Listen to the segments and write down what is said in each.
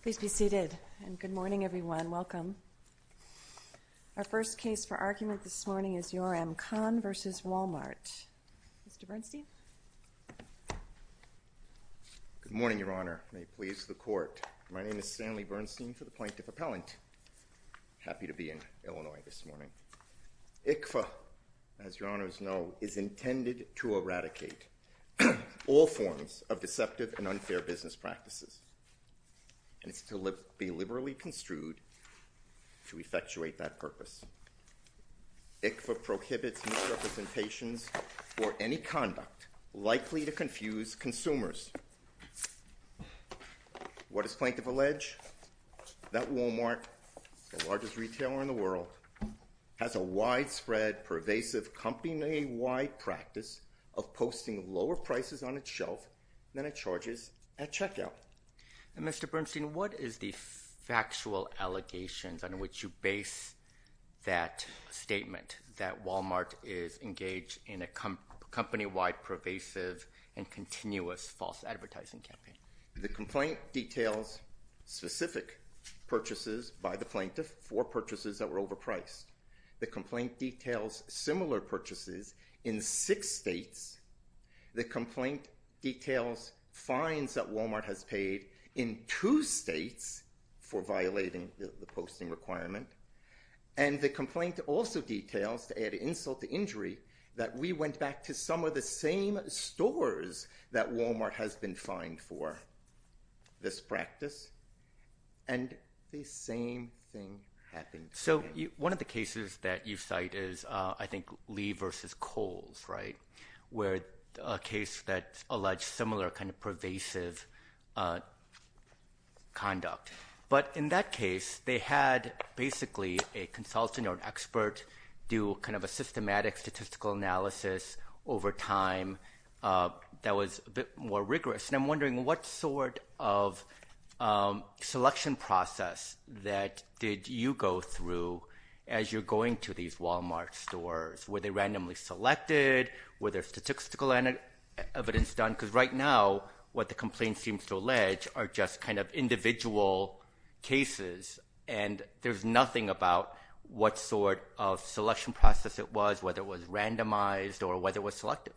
Please be seated, and good morning everyone. Welcome. Our first case for argument this morning is Yoram Kahn v. Walmart. Mr. Bernstein. Good morning, Your Honor. May it please the Court. My name is Stanley Bernstein for the Plaintiff Appellant. Happy to be in Illinois this morning. ICFA, as Your Honors know, is intended to eradicate all forms of deceptive and unfair business practices. And it's to be liberally construed to effectuate that purpose. ICFA prohibits misrepresentations or any conduct likely to confuse consumers. What does Plaintiff allege? That Walmart, the largest retailer in the world, has a widespread, pervasive company-wide practice of posting lower prices on its shelf than it charges at checkout. And Mr. Bernstein, what is the factual allegations under which you base that statement, that Walmart is engaged in a company-wide pervasive and continuous false advertising campaign? The complaint details specific purchases by the plaintiff for purchases that were overpriced. The complaint details similar purchases in six states. The complaint details fines that Walmart has paid in two states for violating the posting requirement. And the complaint also details, to add insult to injury, that we went back to some of the same stores that Walmart has been fined for this practice. And the same thing happened. So one of the cases that you cite is, I think, Lee v. Kohls, right? Where a case that alleged similar kind of pervasive conduct. But in that case, they had basically a consultant or an expert do kind of a systematic statistical analysis over time that was a bit more rigorous. And I'm wondering what sort of selection process that did you go through as you're going to these Walmart stores? Were they randomly selected? Were there statistical evidence done? Because right now, what the complaint seems to allege are just kind of individual cases. And there's nothing about what sort of selection process it was, whether it was randomized or whether it was selected.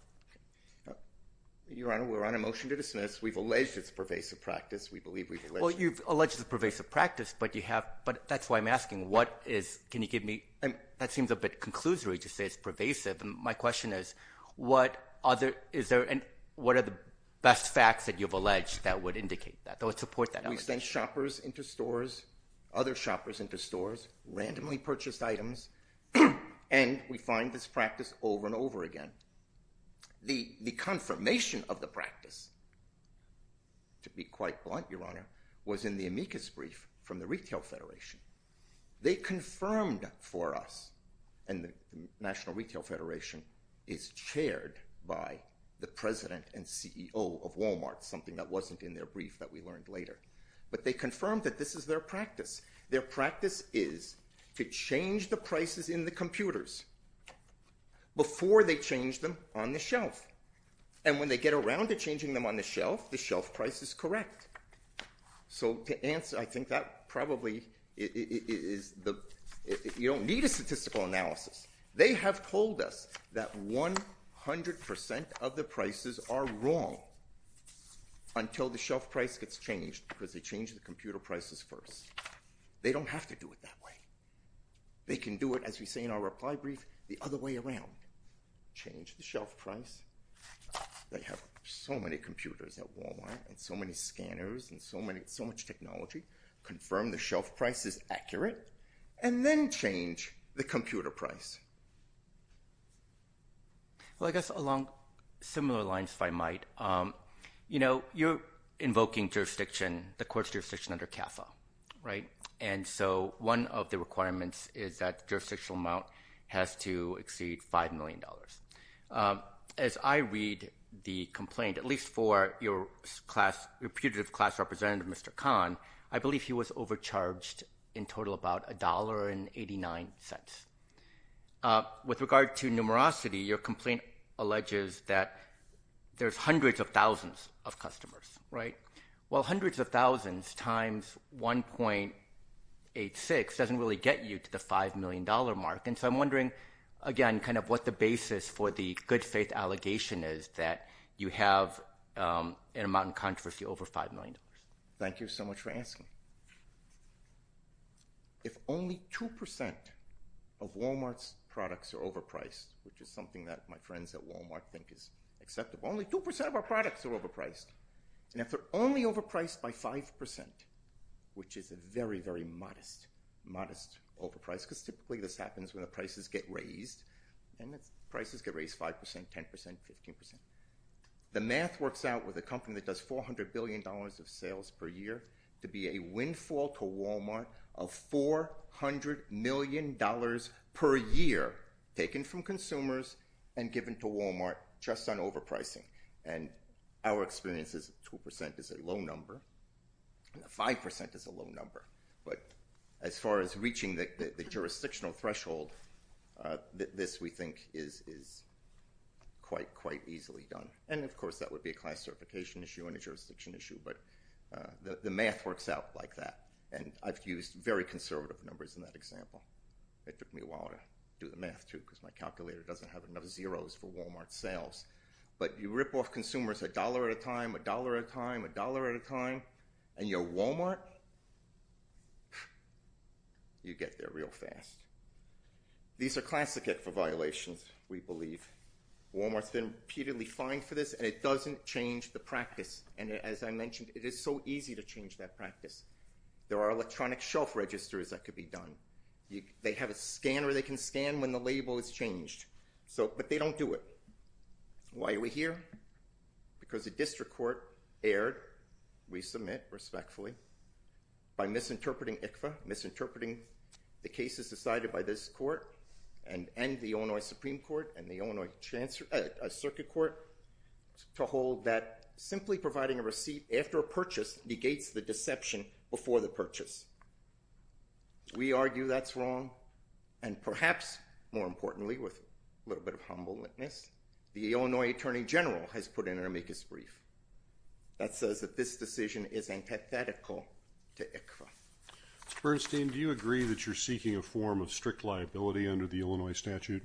Your Honor, we're on a motion to dismiss. We've alleged it's a pervasive practice. We believe we've alleged it. Well, you've alleged it's a pervasive practice, but you have – but that's why I'm asking, what is – can you give me – that seems a bit conclusory to say it's pervasive. My question is, what other – is there – and what are the best facts that you've alleged that would indicate that, that would support that allegation? We send shoppers into stores, other shoppers into stores, randomly purchased items, and we find this practice over and over again. The confirmation of the practice, to be quite blunt, Your Honor, was in the amicus brief from the Retail Federation. They confirmed for us, and the National Retail Federation is chaired by the president and CEO of Walmart, something that wasn't in their brief that we learned later. But they confirmed that this is their practice. Their practice is to change the prices in the computers before they change them on the shelf. And when they get around to changing them on the shelf, the shelf price is correct. So to answer – I think that probably is – you don't need a statistical analysis. They have told us that 100 percent of the prices are wrong until the shelf price gets changed because they change the computer prices first. They don't have to do it that way. They can do it, as we say in our reply brief, the other way around, change the shelf price. They have so many computers at Walmart and so many scanners and so much technology, confirm the shelf price is accurate, and then change the computer price. Well, I guess along similar lines, if I might, you're invoking jurisdiction, the court's jurisdiction under CAFA, right? And so one of the requirements is that the jurisdictional amount has to exceed $5 million. As I read the complaint, at least for your class – your putative class representative, Mr. Kahn, I believe he was overcharged in total about $1.89. With regard to numerosity, your complaint alleges that there's hundreds of thousands of customers, right? Well, hundreds of thousands times 1.86 doesn't really get you to the $5 million mark. And so I'm wondering, again, kind of what the basis for the good faith allegation is that you have an amount in controversy over $5 million. Thank you so much for asking. If only 2% of Walmart's products are overpriced, which is something that my friends at Walmart think is acceptable, only 2% of our products are overpriced. And if they're only overpriced by 5%, which is a very, very modest, modest overprice, because typically this happens when the prices get raised, and prices get raised 5%, 10%, 15%. The math works out with a company that does $400 billion of sales per year to be a windfall to Walmart of $400 million per year taken from consumers and given to Walmart just on overpricing. And our experience is 2% is a low number, and 5% is a low number. But as far as reaching the jurisdictional threshold, this, we think, is quite, quite easily done. And, of course, that would be a class certification issue and a jurisdiction issue, but the math works out like that. And I've used very conservative numbers in that example. It took me a while to do the math, too, because my calculator doesn't have enough zeros for Walmart sales. But you rip off consumers $1 at a time, $1 at a time, $1 at a time, and you're Walmart? You get there real fast. These are classical violations, we believe. Walmart's been repeatedly fined for this, and it doesn't change the practice. And as I mentioned, it is so easy to change that practice. There are electronic shelf registers that could be done. They have a scanner they can scan when the label is changed. But they don't do it. Why are we here? Because the district court erred, we submit respectfully, by misinterpreting ICFA, misinterpreting the cases decided by this court and the Illinois Supreme Court and the Illinois Circuit Court, to hold that simply providing a receipt after a purchase negates the deception before the purchase. We argue that's wrong. And perhaps, more importantly, with a little bit of humble witness, the Illinois Attorney General has put in an amicus brief that says that this decision is antithetical to ICFA. Bernstein, do you agree that you're seeking a form of strict liability under the Illinois statute?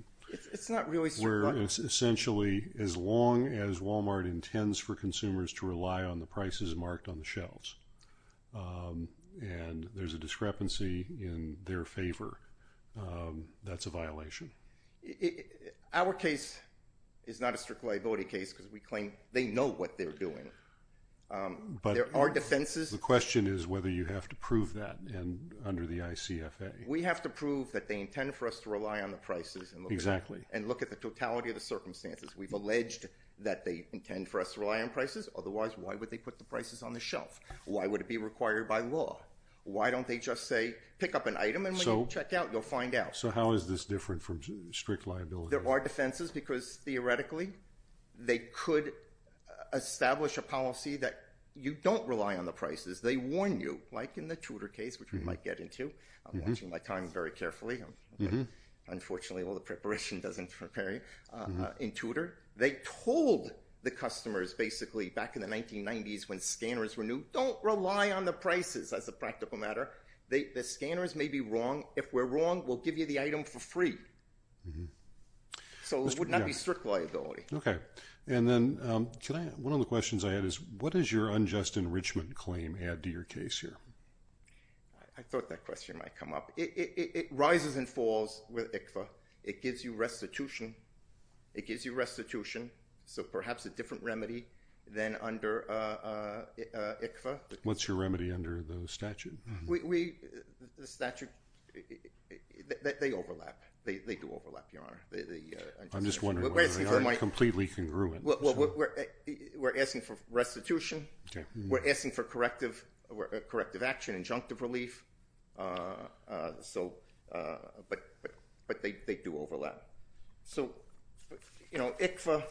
It's not really strict. Where it's essentially as long as Walmart intends for consumers to rely on the prices marked on the shelves. And there's a discrepancy in their favor. That's a violation. Our case is not a strict liability case because we claim they know what they're doing. But there are defenses. The question is whether you have to prove that under the ICFA. We have to prove that they intend for us to rely on the prices. Exactly. And look at the totality of the circumstances. We've alleged that they intend for us to rely on prices. Otherwise, why would they put the prices on the shelf? Why would it be required by law? Why don't they just say, pick up an item, and when you check out, you'll find out? So how is this different from strict liability? There are defenses because, theoretically, they could establish a policy that you don't rely on the prices. They warn you, like in the Tudor case, which we might get into. I'm watching my time very carefully. Unfortunately, all the preparation doesn't prepare you. In Tudor, they told the customers, basically, back in the 1990s when scanners were new, don't rely on the prices as a practical matter. The scanners may be wrong. If we're wrong, we'll give you the item for free. So it would not be strict liability. Okay. And then one of the questions I had is, what does your unjust enrichment claim add to your case here? I thought that question might come up. It rises and falls with ICFA. It gives you restitution. It gives you restitution, so perhaps a different remedy than under ICFA. What's your remedy under the statute? The statute, they overlap. They do overlap, Your Honor. I'm just wondering whether they aren't completely congruent. We're asking for restitution. We're asking for corrective action, injunctive relief, but they do overlap. So, you know, ICFA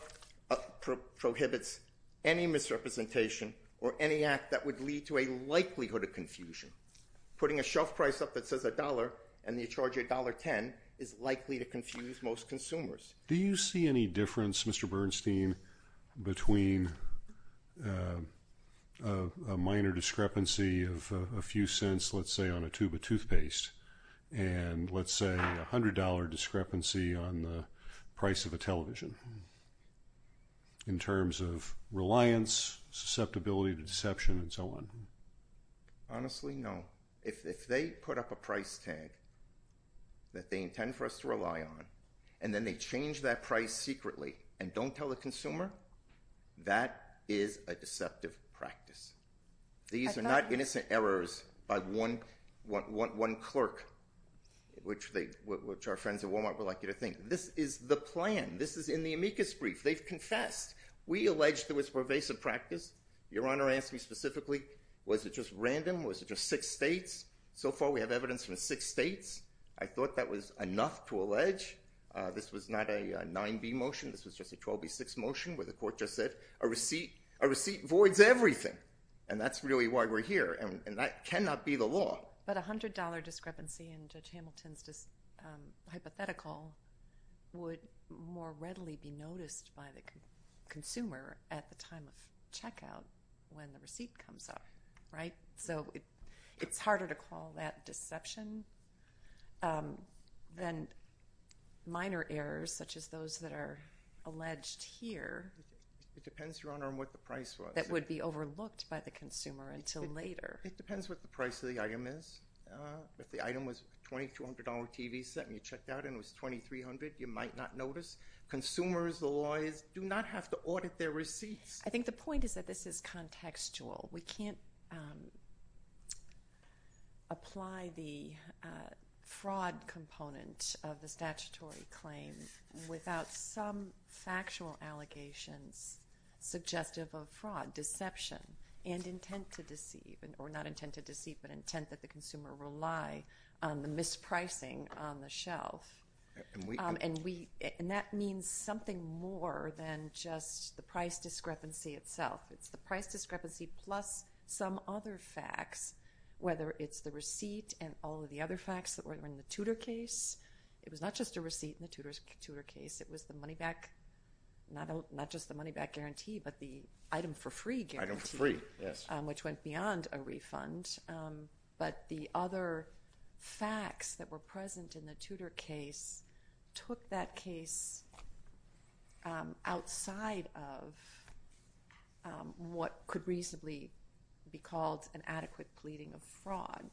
prohibits any misrepresentation or any act that would lead to a likelihood of confusion. Putting a shelf price up that says $1 and you charge $1.10 is likely to confuse most consumers. Do you see any difference, Mr. Bernstein, between a minor discrepancy of a few cents, let's say, on a tube of toothpaste and, let's say, a $100 discrepancy on the price of a television in terms of reliance, susceptibility to deception, and so on? Honestly, no. If they put up a price tag that they intend for us to rely on and then they change that price secretly and don't tell the consumer, that is a deceptive practice. These are not innocent errors by one clerk, which our friends at Walmart would like you to think. This is the plan. This is in the amicus brief. They've confessed. We allege there was pervasive practice. Your Honor asked me specifically, was it just random? Was it just six states? So far, we have evidence from six states. I thought that was enough to allege. This was not a 9b motion. This was just a 12b6 motion where the court just said, a receipt voids everything, and that's really why we're here, and that cannot be the law. But a $100 discrepancy in Judge Hamilton's hypothetical would more readily be noticed by the consumer at the time of checkout when the receipt comes up, right? So it's harder to call that deception than minor errors such as those that are alleged here. It depends, Your Honor, on what the price was. That would be overlooked by the consumer until later. It depends what the price of the item is. If the item was a $2,200 TV set and you checked out and it was $2,300, you might not notice. Consumers, the lawyers, do not have to audit their receipts. I think the point is that this is contextual. We can't apply the fraud component of the statutory claim without some factual allegations suggestive of fraud, deception, and intent to deceive, or not intent to deceive, but intent that the consumer rely on the mispricing on the shelf. And that means something more than just the price discrepancy itself. It's the price discrepancy plus some other facts, whether it's the receipt and all of the other facts that were in the Tudor case. It was not just a receipt in the Tudor case. It was the money back, not just the money back guarantee, but the item for free guarantee. Item for free, yes. Which went beyond a refund. But the other facts that were present in the Tudor case took that case outside of what could reasonably be called an adequate pleading of fraud.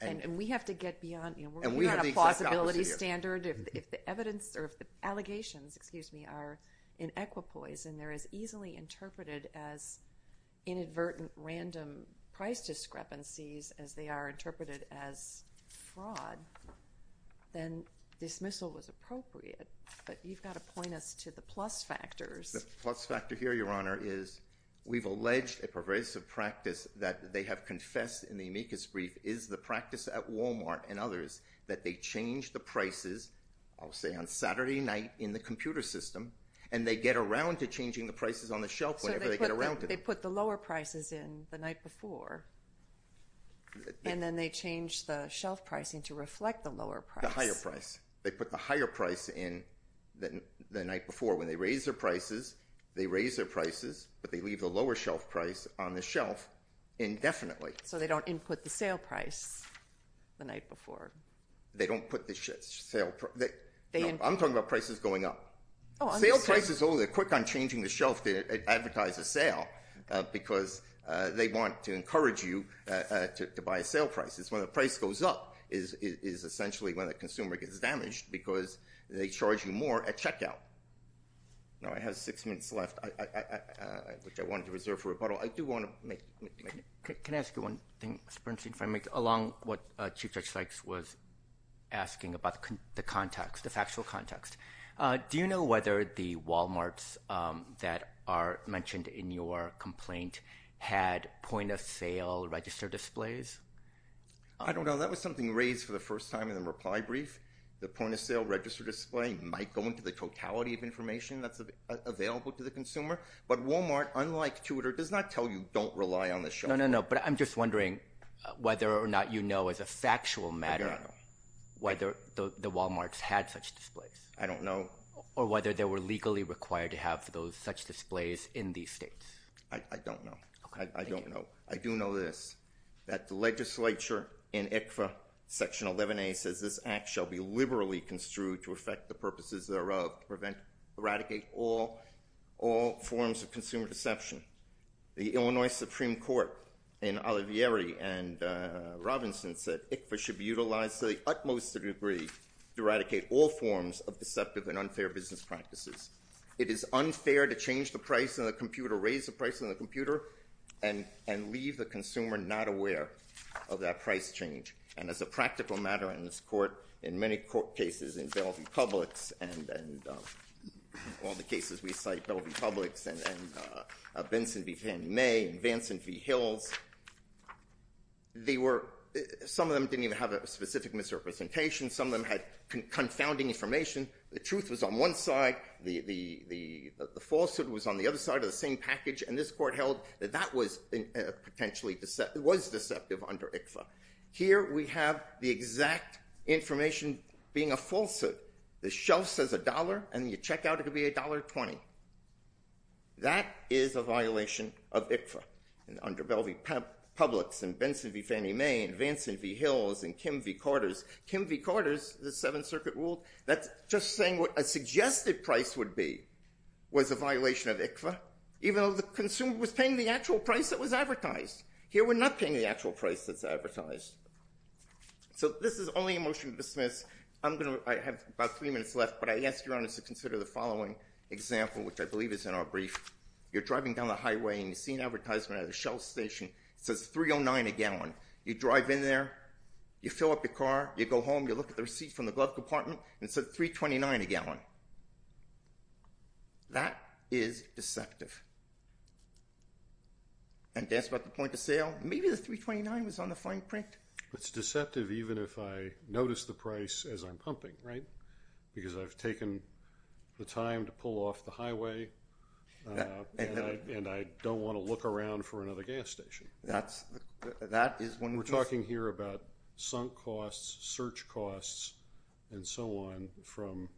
And we have to get beyond, you know, we're not a plausibility standard. If the evidence or if the allegations, excuse me, are in equipoise and they're as easily interpreted as inadvertent random price discrepancies as they are interpreted as fraud, then dismissal was appropriate. But you've got to point us to the plus factors. The plus factor here, Your Honor, is we've alleged a pervasive practice that they have confessed in the amicus brief is the practice at Walmart and others that they change the prices, I'll say on Saturday night in the computer system, and they get around to changing the prices on the shelf whenever they get around to it. So they put the lower prices in the night before. And then they change the shelf pricing to reflect the lower price. The higher price. They put the higher price in the night before. When they raise their prices, they raise their prices, but they leave the lower shelf price on the shelf indefinitely. So they don't input the sale price the night before. They don't put the sale. I'm talking about prices going up. Sale prices, oh, they're quick on changing the shelf to advertise a sale because they want to encourage you to buy a sale price. It's when the price goes up is essentially when the consumer gets damaged because they charge you more at checkout. Now, I have six minutes left, which I wanted to reserve for rebuttal. I do want to make it. Can I ask you one thing, Mr. Bernstein, if I may, along what Chief Judge Sykes was asking about the context, the factual context? Do you know whether the Walmarts that are mentioned in your complaint had point-of-sale register displays? I don't know. That was something raised for the first time in the reply brief. The point-of-sale register display might go into the totality of information that's available to the consumer. But Walmart, unlike Tudor, does not tell you don't rely on the shelf. No, no, no, but I'm just wondering whether or not you know as a factual matter whether the Walmarts had such displays. I don't know. Or whether they were legally required to have such displays in these states. I don't know. I don't know. I do know this, that the legislature in ICFA Section 11A says this act shall be liberally construed to affect the purposes thereof, to eradicate all forms of consumer deception. The Illinois Supreme Court in Olivieri and Robinson said ICFA should be utilized to the utmost degree to eradicate all forms of deceptive and unfair business practices. It is unfair to change the price on the computer, raise the price on the computer, and leave the consumer not aware of that price change. And as a practical matter in this court, in many cases in Bell v. Publix and all the cases we cite, Bell v. Publix and Benson v. Henry May and Vanson v. Hills, some of them didn't even have a specific misrepresentation. Some of them had confounding information. The truth was on one side. The falsehood was on the other side of the same package. And this court held that that was potentially deceptive, was deceptive under ICFA. Here we have the exact information being a falsehood. The shelf says $1, and you check out, it'll be $1.20. That is a violation of ICFA under Bell v. Publix and Benson v. Henry May and Vanson v. Hills and Kim v. Corders. Kim v. Corders, the Seventh Circuit ruled, that's just saying what a suggested price would be was a violation of ICFA, even though the consumer was paying the actual price that was advertised. Here we're not paying the actual price that's advertised. So this is only a motion to dismiss. I have about three minutes left, but I ask your Honor to consider the following example, which I believe is in our brief. You're driving down the highway, and you see an advertisement at a shelf station. It says $3.09 a gallon. You drive in there. You fill up your car. You go home. You look at the receipt from the glove compartment, and it says $3.29 a gallon. That is deceptive. And that's about the point of sale. Maybe the $3.29 was on the fine print. It's deceptive even if I notice the price as I'm pumping, right, because I've taken the time to pull off the highway, and I don't want to look around for another gas station. That is one of the pieces. We're talking here about sunk costs, search costs, and so on from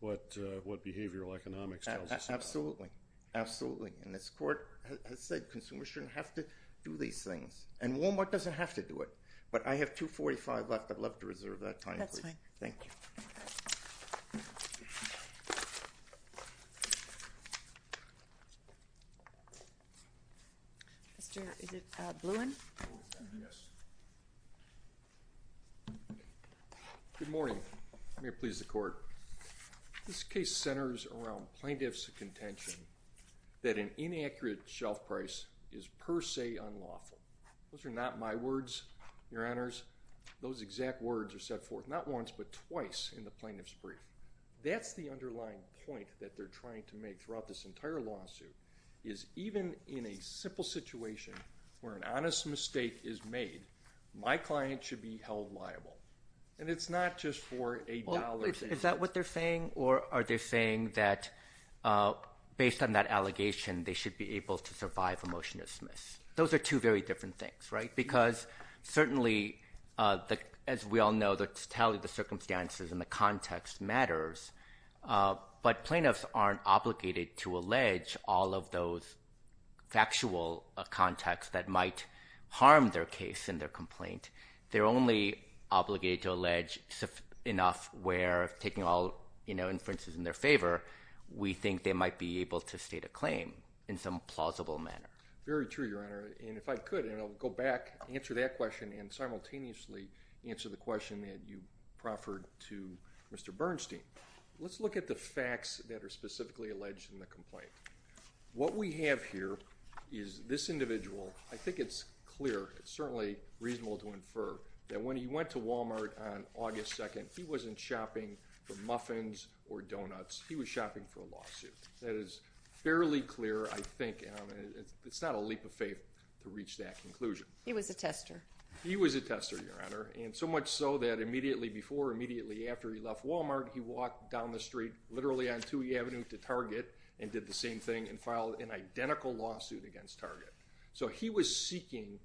what behavioral economics tells us. Absolutely. Absolutely. And this Court has said consumers shouldn't have to do these things. And Walmart doesn't have to do it. But I have $2.45 left. I'd love to reserve that time, please. That's fine. Thank you. Mr. Bluin? Yes. Good morning. May it please the Court. This case centers around plaintiff's contention that an inaccurate shelf price is per se unlawful. Those are not my words, Your Honors. Those exact words are set forth not once but twice in the plaintiff's brief. That's the underlying point that they're trying to make throughout this entire lawsuit, is even in a simple situation where an honest mistake is made, my client should be held liable. And it's not just for a dollar's worth. Is that what they're saying? Or are they saying that based on that allegation they should be able to survive a motion to dismiss? Those are two very different things, right? Because certainly, as we all know, the totality of the circumstances and the context matters. But plaintiffs aren't obligated to allege all of those factual contexts that might harm their case and their complaint. They're only obligated to allege enough where, taking all inferences in their favor, we think they might be able to state a claim in some plausible manner. Very true, Your Honor. And if I could, and I'll go back, answer that question, and simultaneously answer the question that you proffered to Mr. Bernstein. Let's look at the facts that are specifically alleged in the complaint. What we have here is this individual. I think it's clear. It's certainly reasonable to infer that when he went to Wal-Mart on August 2nd, he wasn't shopping for muffins or donuts. He was shopping for a lawsuit. That is fairly clear, I think, and it's not a leap of faith to reach that conclusion. He was a tester. He was a tester, Your Honor, and so much so that immediately before or immediately after he left Wal-Mart, he walked down the street literally on Toohey Avenue to Target and did the same thing and filed an identical lawsuit against Target. So he was seeking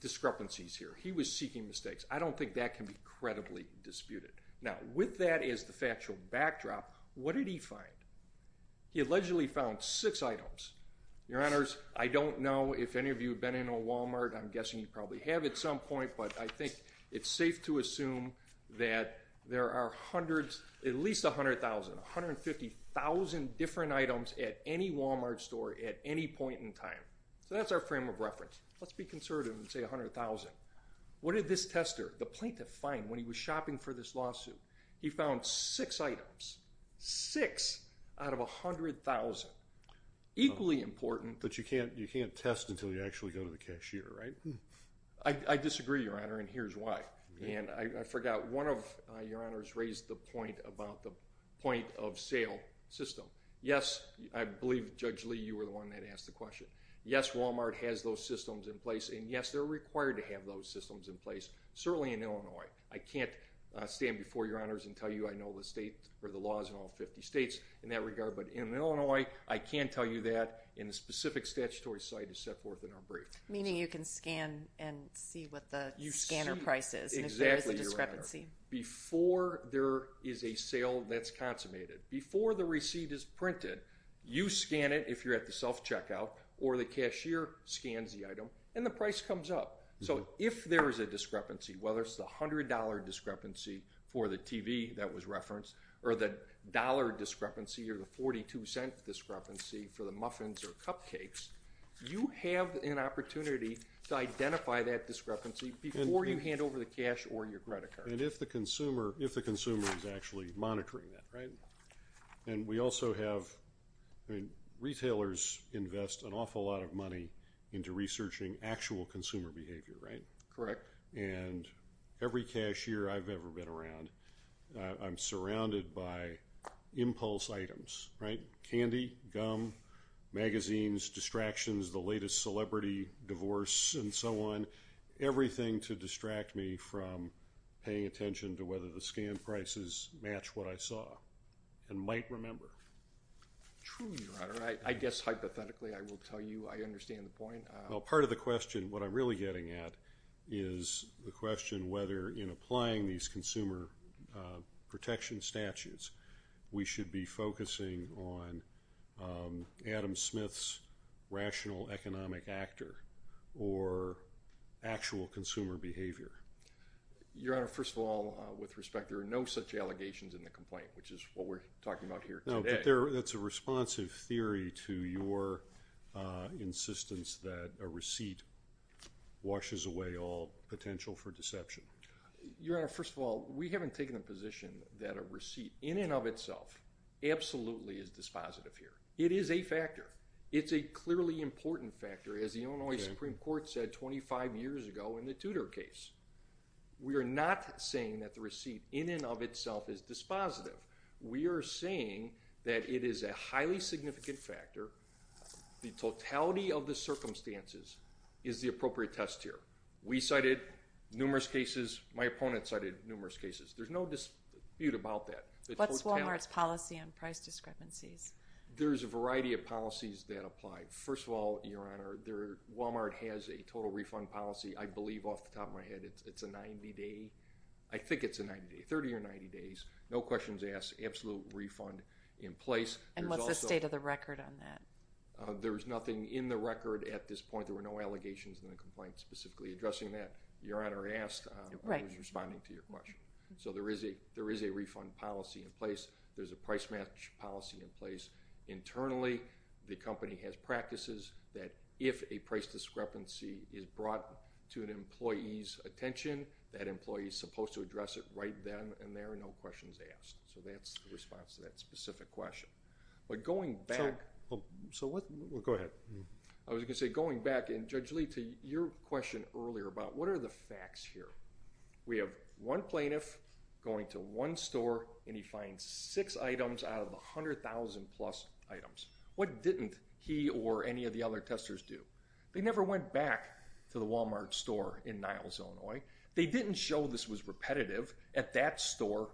discrepancies here. He was seeking mistakes. I don't think that can be credibly disputed. Now, with that as the factual backdrop, what did he find? He allegedly found six items. Your Honors, I don't know if any of you have been in a Wal-Mart. I'm guessing you probably have at some point, but I think it's safe to assume that there are hundreds, at least 100,000, 150,000 different items at any Wal-Mart store at any point in time. So that's our frame of reference. Let's be conservative and say 100,000. What did this tester, the plaintiff, find when he was shopping for this lawsuit? He found six items, six out of 100,000. Equally important. But you can't test until you actually go to the cashier, right? I disagree, Your Honor, and here's why. I forgot, one of Your Honors raised the point about the point of sale system. Yes, I believe, Judge Lee, you were the one that asked the question. Yes, Wal-Mart has those systems in place, and, yes, they're required to have those systems in place, certainly in Illinois. I can't stand before Your Honors and tell you I know the laws in all 50 states in that regard, but in Illinois, I can tell you that, and a specific statutory site is set forth in our brief. Meaning you can scan and see what the scanner price is. Exactly, Your Honor, before there is a sale that's consummated. Before the receipt is printed, you scan it if you're at the self-checkout or the cashier scans the item and the price comes up. So if there is a discrepancy, whether it's the $100 discrepancy for the TV that was referenced or the dollar discrepancy or the 42-cent discrepancy for the muffins or cupcakes, you have an opportunity to identify that discrepancy before you hand over the cash or your credit card. And if the consumer is actually monitoring that, right? And we also have retailers invest an awful lot of money into researching actual consumer behavior, right? Correct. And every cashier I've ever been around, I'm surrounded by impulse items, right? Candy, gum, magazines, distractions, the latest celebrity, divorce, and so on. Everything to distract me from paying attention to whether the scan prices match what I saw and might remember. True, Your Honor. I guess hypothetically I will tell you I understand the point. Well, part of the question, what I'm really getting at, is the question whether in applying these consumer protection statutes, we should be focusing on Adam Smith's rational economic actor or actual consumer behavior. Your Honor, first of all, with respect, there are no such allegations in the complaint, which is what we're talking about here today. No, but that's a responsive theory to your insistence that a receipt washes away all potential for deception. Your Honor, first of all, we haven't taken a position that a receipt, in and of itself, absolutely is dispositive here. It is a factor. It's a clearly important factor, as the Illinois Supreme Court said 25 years ago in the Tudor case. We are not saying that the receipt, in and of itself, is dispositive. We are saying that it is a highly significant factor. The totality of the circumstances is the appropriate test here. We cited numerous cases. My opponent cited numerous cases. There's no dispute about that. What's Walmart's policy on price discrepancies? There's a variety of policies that apply. First of all, Your Honor, Walmart has a total refund policy, I believe, off the top of my head. It's a 90-day. I think it's a 90-day, 30 or 90 days, no questions asked, absolute refund in place. And what's the state of the record on that? There's nothing in the record at this point. There were no allegations in the complaint specifically addressing that. So there is a refund policy in place. There's a price match policy in place. Internally, the company has practices that if a price discrepancy is brought to an employee's attention, that employee is supposed to address it right then and there, no questions asked. So that's the response to that specific question. But going back... Go ahead. I was going to say going back, and Judge Lee, to your question earlier about what are the facts here. We have one plaintiff going to one store and he finds six items out of the 100,000 plus items. What didn't he or any of the other testers do? They never went back to the Walmart store in Niles, Illinois. They didn't show this was repetitive at that store.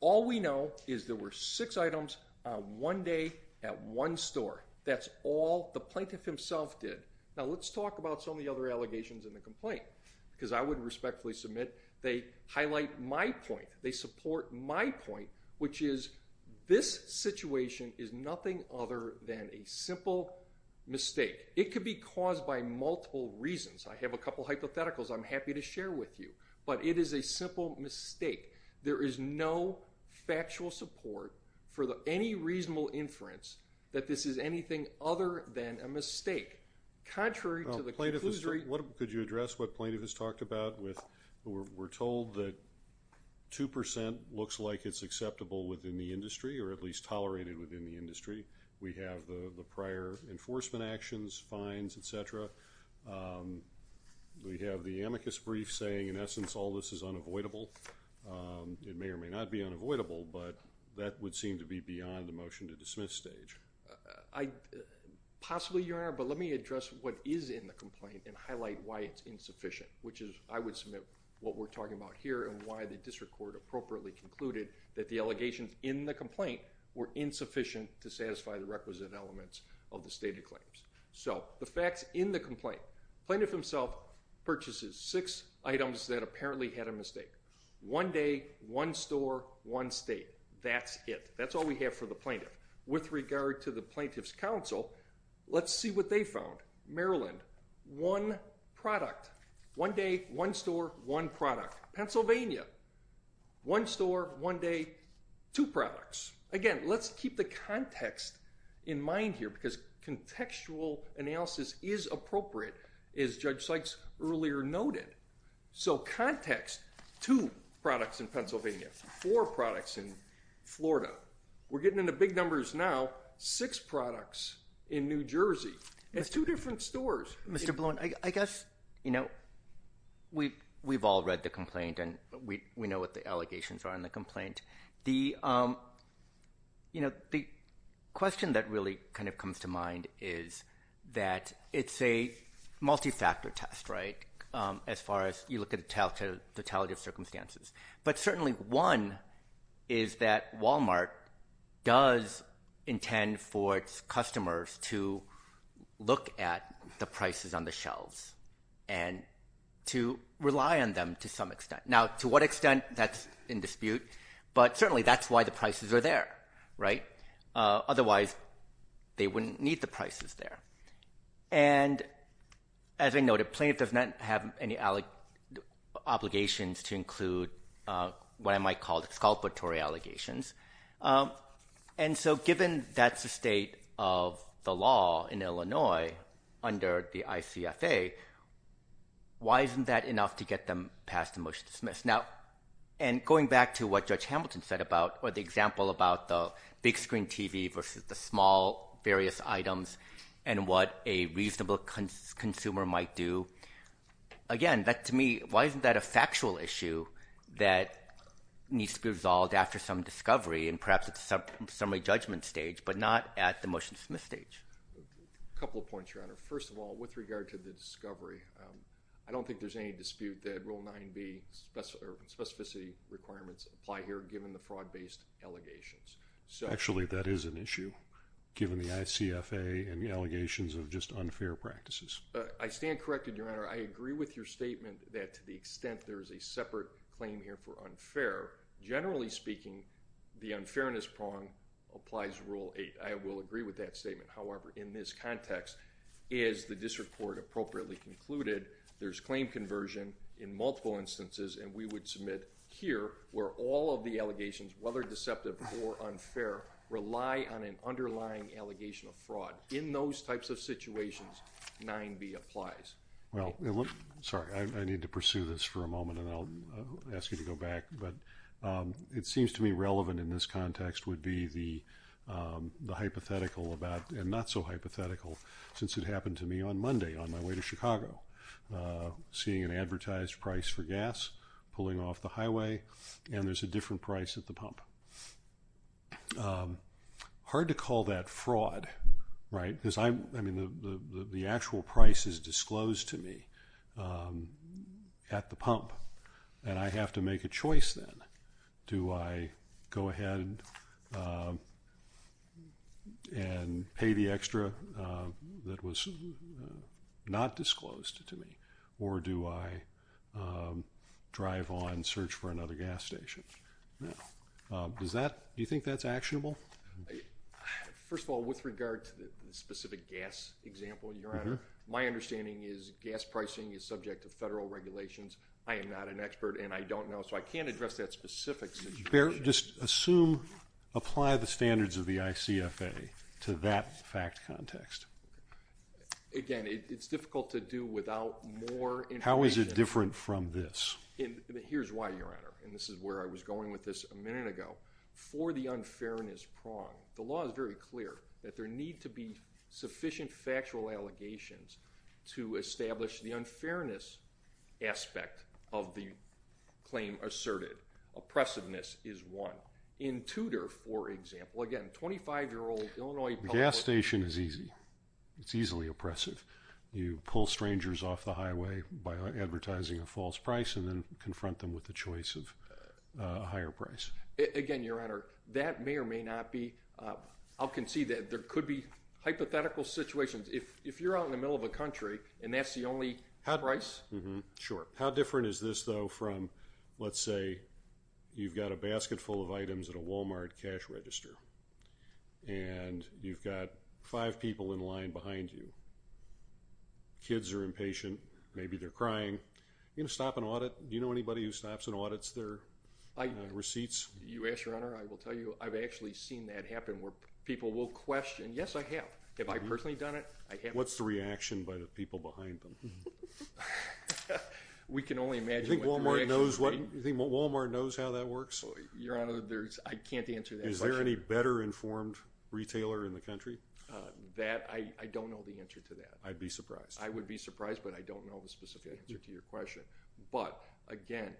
All we know is there were six items on one day at one store. That's all the plaintiff himself did. Now, let's talk about some of the other allegations in the complaint because I would respectfully submit they highlight my point. They support my point, which is this situation is nothing other than a simple mistake. It could be caused by multiple reasons. I have a couple hypotheticals I'm happy to share with you. But it is a simple mistake. There is no factual support for any reasonable inference that this is anything other than a mistake. Contrary to the conclusion... Could you address what plaintiff has talked about with... 2% looks like it's acceptable within the industry or at least tolerated within the industry. We have the prior enforcement actions, fines, etc. We have the amicus brief saying, in essence, all this is unavoidable. It may or may not be unavoidable, but that would seem to be beyond the motion to dismiss stage. Possibly, Your Honor, but let me address what is in the complaint and highlight why it's insufficient, which is I would submit what we're talking about here and why the district court appropriately concluded that the allegations in the complaint were insufficient to satisfy the requisite elements of the stated claims. So, the facts in the complaint. Plaintiff himself purchases six items that apparently had a mistake. One day, one store, one state. That's it. That's all we have for the plaintiff. With regard to the plaintiff's counsel, let's see what they found. Maryland, one product. One day, one store, one product. Pennsylvania, one store, one day, two products. Again, let's keep the context in mind here because contextual analysis is appropriate, as Judge Sykes earlier noted. So, context, two products in Pennsylvania, four products in Florida. We're getting into big numbers now. Six products in New Jersey. That's two different stores. Mr. Bloom, I guess, you know, we've all read the complaint and we know what the allegations are in the complaint. The question that really kind of comes to mind is that it's a multi-factor test, right, as far as you look at the totality of circumstances. But certainly one is that Walmart does intend for its customers to look at the prices on the shelves and to rely on them to some extent. Now, to what extent, that's in dispute, but certainly that's why the prices are there, right? Otherwise, they wouldn't need the prices there. And, as I noted, plaintiff does not have any obligations to include what I might call exculpatory allegations. And so given that's the state of the law in Illinois under the ICFA, why isn't that enough to get them passed the motion to dismiss? Now, and going back to what Judge Hamilton said about or the example about the big screen TV versus the small various items and what a reasonable consumer might do, again, to me, why isn't that a factual issue that needs to be resolved after some discovery and perhaps at the summary judgment stage but not at the motion to dismiss stage? A couple of points, Your Honor. First of all, with regard to the discovery, I don't think there's any dispute that Rule 9b specificity requirements apply here given the fraud-based allegations. Actually, that is an issue given the ICFA and the allegations of just unfair practices. I stand corrected, Your Honor. I agree with your statement that to the extent there is a separate claim here for unfair, generally speaking, the unfairness prong applies to Rule 8. I will agree with that statement. However, in this context, is the district court appropriately concluded? There's claim conversion in multiple instances, and we would submit here where all of the allegations, whether deceptive or unfair, rely on an underlying allegation of fraud. In those types of situations, 9b applies. Well, sorry, I need to pursue this for a moment, and I'll ask you to go back. But it seems to me relevant in this context would be the hypothetical about and not so hypothetical since it happened to me on Monday on my way to Chicago, seeing an advertised price for gas pulling off the highway, and there's a different price at the pump. Hard to call that fraud, right? I mean, the actual price is disclosed to me at the pump, and I have to make a choice then. Do I go ahead and pay the extra that was not disclosed to me, or do I drive on and search for another gas station? Do you think that's actionable? First of all, with regard to the specific gas example, Your Honor, my understanding is gas pricing is subject to federal regulations. I am not an expert, and I don't know, so I can't address that specific situation. Just assume, apply the standards of the ICFA to that fact context. Again, it's difficult to do without more information. How is it different from this? Here's why, Your Honor, and this is where I was going with this a minute ago. For the unfairness prong, the law is very clear that there need to be sufficient factual allegations to establish the unfairness aspect of the claim asserted. Oppressiveness is one. In Tudor, for example, again, 25-year-old Illinois public worker. Gas station is easy. It's easily oppressive. You pull strangers off the highway by advertising a false price and then confront them with the choice of a higher price. Again, Your Honor, that may or may not be. I'll concede that there could be hypothetical situations. If you're out in the middle of a country and that's the only price. Sure. How different is this, though, from, let's say, you've got a basket full of items at a Walmart cash register and you've got five people in line behind you. Kids are impatient. Maybe they're crying. You're going to stop and audit. Do you know anybody who stops and audits their receipts? Your Honor, I will tell you I've actually seen that happen where people will question. Yes, I have. Have I personally done it? What's the reaction by the people behind them? We can only imagine. You think Walmart knows how that works? Your Honor, I can't answer that question. Is there any better informed retailer in the country? I don't know the answer to that. I'd be surprised. I would be surprised, but I don't know the specific answer to your question. But, again,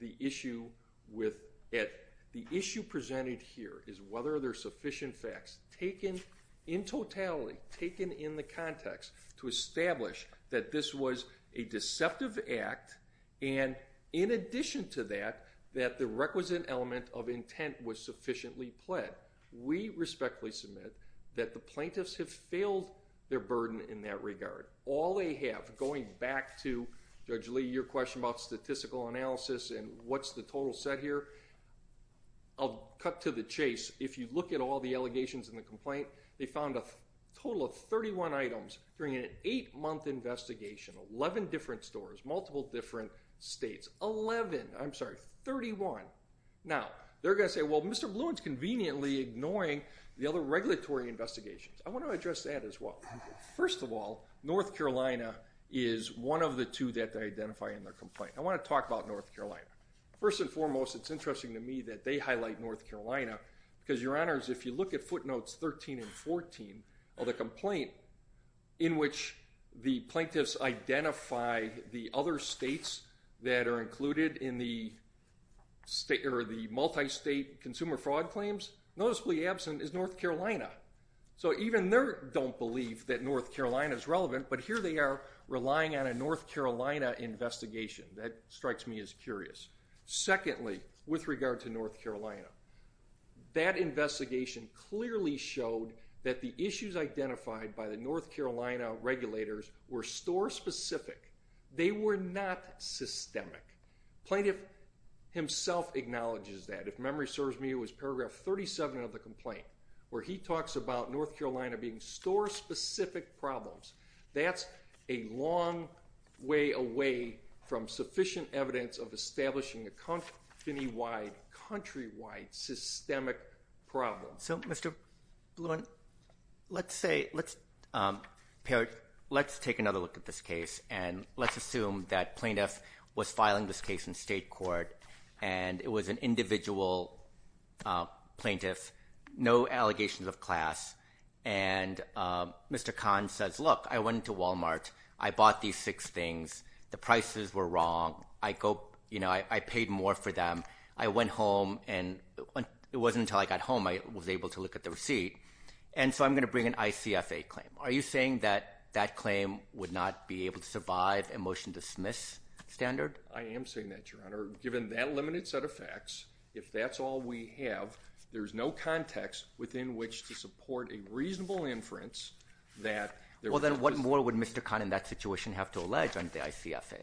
the issue with it, the issue presented here is whether there are sufficient facts taken in totality, taken in the context, to establish that this was a deceptive act and in addition to that, that the requisite element of intent was sufficiently pled. We respectfully submit that the plaintiffs have failed their burden in that regard. All they have, going back to Judge Lee, your question about statistical analysis and what's the total set here, I'll cut to the chase. If you look at all the allegations in the complaint, they found a total of 31 items during an 8-month investigation, 11 different stores, multiple different states, 11. I'm sorry, 31. Now, they're going to say, well, Mr. Blunt's conveniently ignoring the other regulatory investigations. I want to address that as well. First of all, North Carolina is one of the two that they identify in their complaint. I want to talk about North Carolina. First and foremost, it's interesting to me that they highlight North Carolina because, Your Honors, if you look at footnotes 13 and 14 of the complaint in which the plaintiffs identify the other states that are included in the multi-state consumer fraud claims, noticeably absent is North Carolina. So even they don't believe that North Carolina is relevant, but here they are relying on a North Carolina investigation. That strikes me as curious. Secondly, with regard to North Carolina, that investigation clearly showed that the issues identified by the North Carolina regulators were store-specific. They were not systemic. The plaintiff himself acknowledges that. If memory serves me, it was paragraph 37 of the complaint where he talks about North Carolina being store-specific problems. That's a long way away from sufficient evidence of establishing a countywide, countrywide systemic problem. So, Mr. Blumenthal, let's take another look at this case and let's assume that plaintiff was filing this case in state court and it was an individual plaintiff. No allegations of class. And Mr. Kahn says, look, I went into Walmart. I bought these six things. The prices were wrong. I paid more for them. I went home, and it wasn't until I got home I was able to look at the receipt. And so I'm going to bring an ICFA claim. Are you saying that that claim would not be able to survive a motion to dismiss standard? I am saying that, Your Honor. Given that limited set of facts, if that's all we have, there's no context within which to support a reasonable inference that... Well, then what more would Mr. Kahn in that situation have to allege on the ICFA?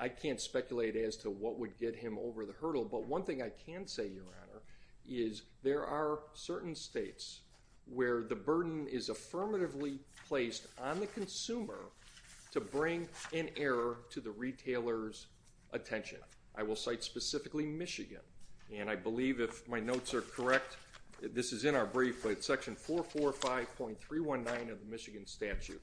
I can't speculate as to what would get him over the hurdle, but one thing I can say, Your Honor, is there are certain states where the burden is affirmatively placed on the consumer to bring an error to the retailer's attention. I will cite specifically Michigan, and I believe if my notes are correct, this is in our brief, but it's section 445.319 of the Michigan statute.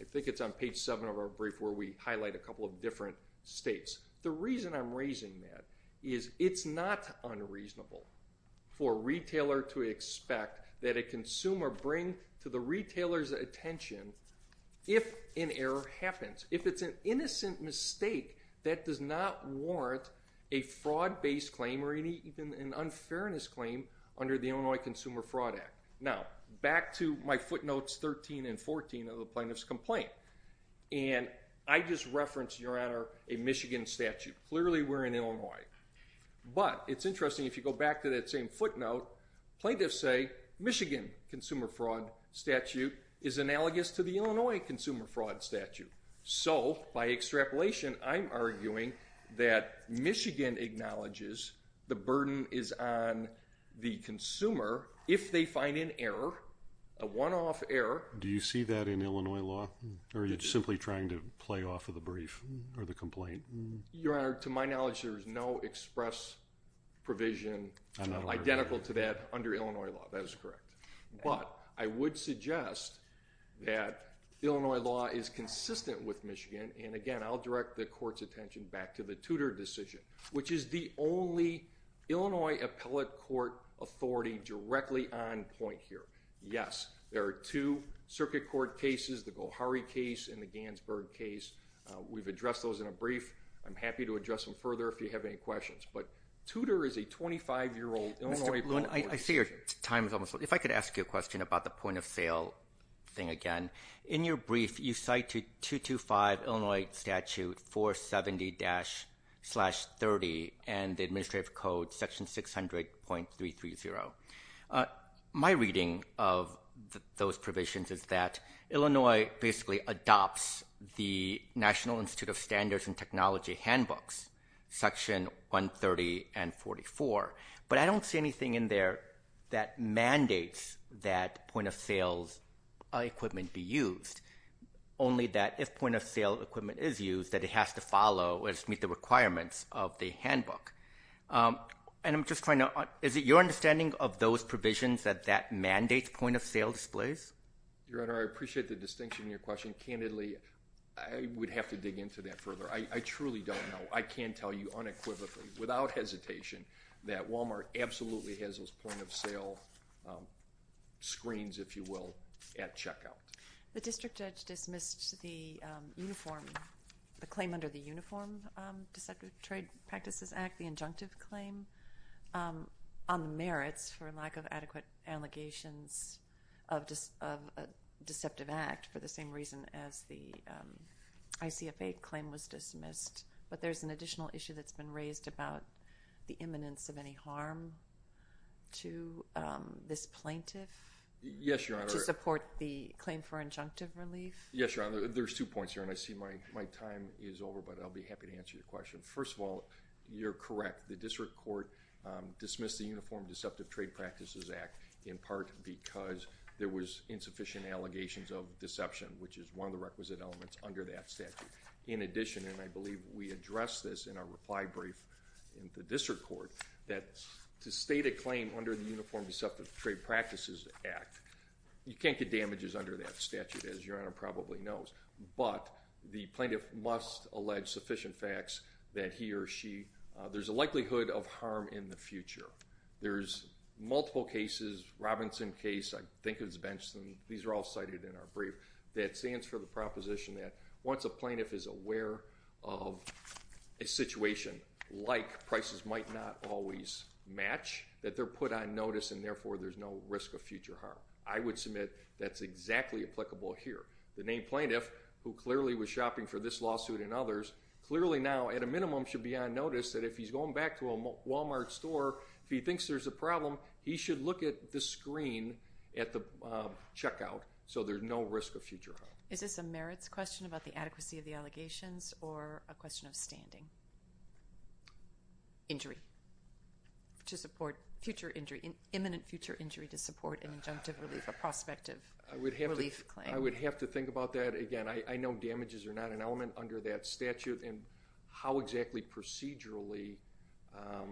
I think it's on page 7 of our brief where we highlight a couple of different states. The reason I'm raising that is it's not unreasonable for a retailer to expect that a consumer bring to the retailer's attention if an error happens. If it's an innocent mistake, that does not warrant a fraud-based claim or even an unfairness claim under the Illinois Consumer Fraud Act. Now, back to my footnotes 13 and 14 of the plaintiff's complaint. And I just referenced, Your Honor, a Michigan statute. Clearly, we're in Illinois. But it's interesting, if you go back to that same footnote, plaintiffs say Michigan consumer fraud statute is analogous to the Illinois consumer fraud statute. So, by extrapolation, I'm arguing that Michigan acknowledges the burden is on the consumer if they find an error, a one-off error. Do you see that in Illinois law? Or are you simply trying to play off of the brief or the complaint? Your Honor, to my knowledge, there is no express provision identical to that under Illinois law. That is correct. But I would suggest that Illinois law is consistent with Michigan. And again, I'll direct the court's attention back to the Tudor decision, which is the only Illinois appellate court authority directly on point here. Yes, there are two circuit court cases, the Gohari case and the Gansberg case. We've addressed those in a brief. I'm happy to address them further if you have any questions. But Tudor is a 25-year-old Illinois... I see your time is almost up. If I could ask you a question about the point-of-sale thing again. In your brief, you cite 225 Illinois Statute 470-30 and the Administrative Code, Section 600.330. My reading of those provisions is that Illinois basically adopts the National Institute of Standards and Technology handbooks, Section 130 and 44. But I don't see anything in there that mandates that point-of-sales equipment be used, only that if point-of-sale equipment is used, that it has to follow or meet the requirements of the handbook. And I'm just trying to... Is it your understanding of those provisions that that mandates point-of-sale displays? Your Honor, I appreciate the distinction in your question. Candidly, I would have to dig into that further. I truly don't know. I can tell you unequivocally, without hesitation, that Walmart absolutely has those point-of-sale screens, if you will, at checkout. The district judge dismissed the claim under the Uniform Deceptive Trade Practices Act, the injunctive claim, on the merits for lack of adequate allegations of a deceptive act for the same reason as the ICFA claim was dismissed. But there's an additional issue that's been raised about the imminence of any harm to this plaintiff... Yes, Your Honor. ...to support the claim for injunctive relief. Yes, Your Honor. There's two points here, and I see my time is over, but I'll be happy to answer your question. First of all, you're correct. The district court dismissed the Uniform Deceptive Trade Practices Act in part because there was insufficient allegations of deception, which is one of the requisite elements under that statute. In addition, and I believe we addressed this in our reply brief in the district court, that to state a claim under the Uniform Deceptive Trade Practices Act, you can't get damages under that statute, as Your Honor probably knows, but the plaintiff must allege sufficient facts that he or she... There's a likelihood of harm in the future. There's multiple cases. Robinson case, I think it was Benson, these are all cited in our brief, that stands for the proposition that once a plaintiff is aware of a situation like prices might not always match, that they're put on notice, and therefore there's no risk of future harm. I would submit that's exactly applicable here. The named plaintiff, who clearly was shopping for this lawsuit and others, clearly now at a minimum should be on notice that if he's going back to a Walmart store, if he thinks there's a problem, he should look at the screen at the checkout so there's no risk of future harm. Is this a merits question about the adequacy of the allegations or a question of standing? Injury. To support future injury, imminent future injury to support an injunctive relief or prospective relief claim. I would have to think about that again. I know damages are not an element under that statute, and how exactly procedurally...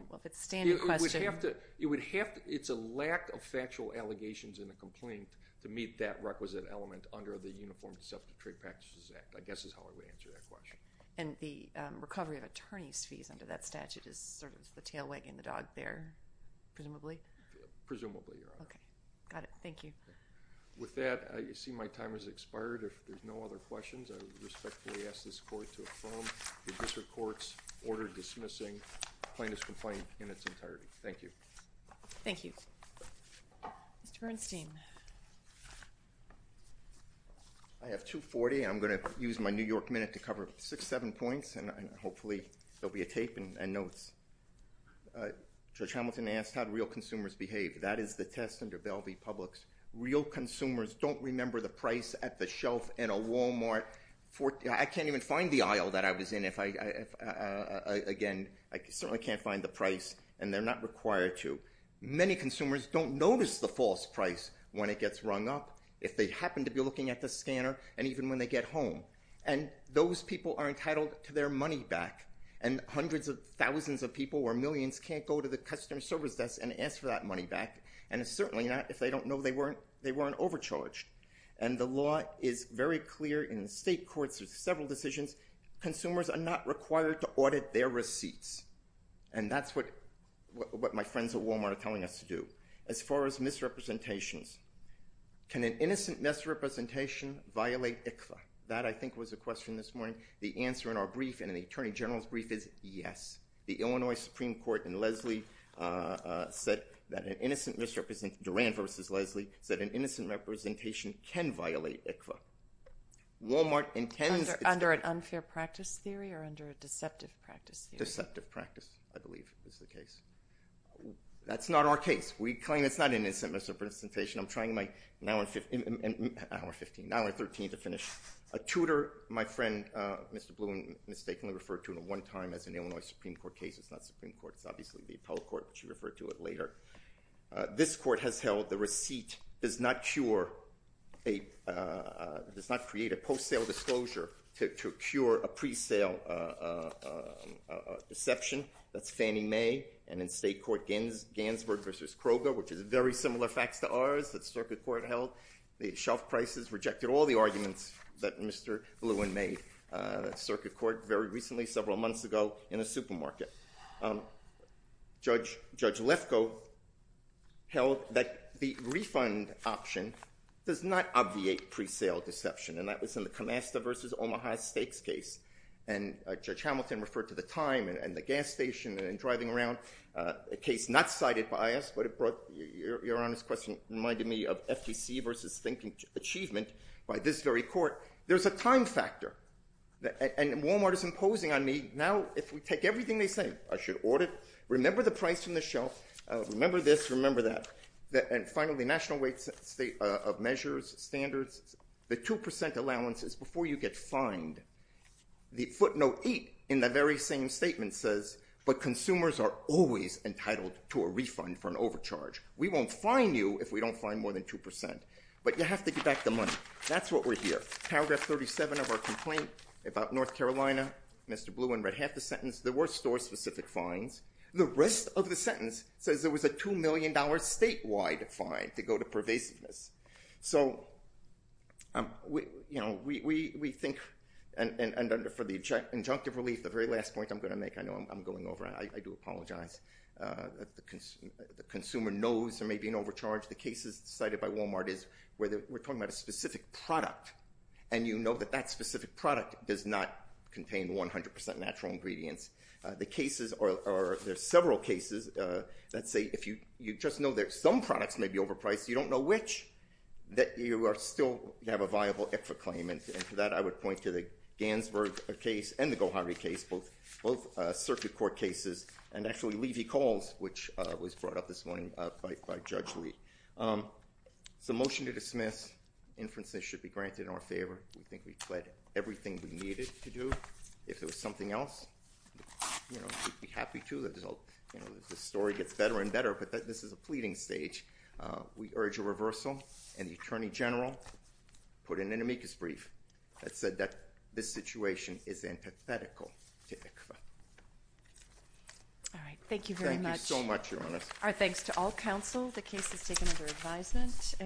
Well, if it's a standing question... It's a lack of factual allegations in the complaint to meet that requisite element under the Uniform Deceptive Trade Practices Act, I guess is how I would answer that question. And the recovery of attorney's fees under that statute is sort of the tail wagging the dog there, presumably? Presumably, Your Honor. Okay. Got it. Thank you. With that, I see my time has expired. If there's no other questions, I respectfully ask this Court to affirm the District Court's order dismissing plaintiff's complaint in its entirety. Thank you. Thank you. Mr. Bernstein. I have 240. I'm going to use my New York Minute to cover six, seven points, and hopefully there'll be a tape and notes. Judge Hamilton asked how real consumers behave. That is the test under Bell v. Publix. Real consumers don't remember the price at the shelf in a Walmart. I can't even find the aisle that I was in if I... Again, I certainly can't find the price, and they're not required to. Many consumers don't notice the false price when it gets rung up, if they happen to be looking at the scanner, and even when they get home. And those people are entitled to their money back, and hundreds of thousands of people or millions can't go to the customer service desk and ask for that money back, and certainly not if they don't know they weren't overcharged. And the law is very clear in the state courts with several decisions. Consumers are not required to audit their receipts, and that's what my friends at Walmart are telling us to do. As far as misrepresentations, can an innocent misrepresentation violate ICFA? That, I think, was the question this morning. The answer in our brief and in the Attorney General's brief is yes. The Illinois Supreme Court in Lesley said that an innocent misrepresentation... Duran v. Lesley said an innocent misrepresentation can violate ICFA. Walmart intends... Under an unfair practice theory or under a deceptive practice theory? A deceptive practice, I believe, is the case. That's not our case. We claim it's not an innocent misrepresentation. I'm trying my... Hour 15. Hour 13 to finish. A tutor, my friend Mr. Bluen mistakenly referred to at one time as an Illinois Supreme Court case. It's not the Supreme Court. It's obviously the appellate court, but she referred to it later. This court has held the receipt does not cure a... Deception. That's Fannie Mae. And in state court Gansburg v. Kroger, which is very similar facts to ours, that circuit court held, the shelf prices rejected all the arguments that Mr. Bluen made at circuit court very recently, several months ago in a supermarket. Judge Lefkoe held that the refund option does not obviate pre-sale deception, and that was in the Comasta v. Omaha stakes case. And Judge Hamilton referred to the time and the gas station and driving around, a case not cited by us, but it brought... Your Honor's question reminded me of FTC v. thinking achievement by this very court. There's a time factor. And Walmart is imposing on me now if we take everything they say, I should audit, remember the price from the shelf, remember this, remember that, and finally national weight of measures, standards, the 2% allowances before you get fined. The footnote 8 in the very same statement says, but consumers are always entitled to a refund for an overcharge. We won't fine you if we don't fine more than 2%. But you have to get back the money. That's what we're here. Paragraph 37 of our complaint about North Carolina, Mr. Bluen read half the sentence. There were store-specific fines. The rest of the sentence says there was a $2 million statewide fine to go to pervasiveness. So, you know, we think... And for the injunctive relief, the very last point I'm going to make, I know I'm going over, I do apologize. The consumer knows there may be an overcharge. The cases cited by Walmart is where we're talking about a specific product, and you know that that specific product does not contain 100% natural ingredients. The cases are... There are several cases that say if you just know that some products may be overpriced, you don't know which, that you are still...you have a viable IFRA claim. And for that, I would point to the Gansberg case and the Gohari case, both circuit court cases, and actually Levy Calls, which was brought up this morning by Judge Lee. It's a motion to dismiss. Inferences should be granted in our favor. We think we've said everything we needed to do. If there was something else, you know, we'd be happy to. You know, the story gets better and better, but this is a pleading stage. We urge a reversal. And the attorney general put in an amicus brief that said that this situation is antithetical to IFRA. All right. Thank you very much. Thank you so much, Your Honor. Our thanks to all counsel. The case is taken under advisement.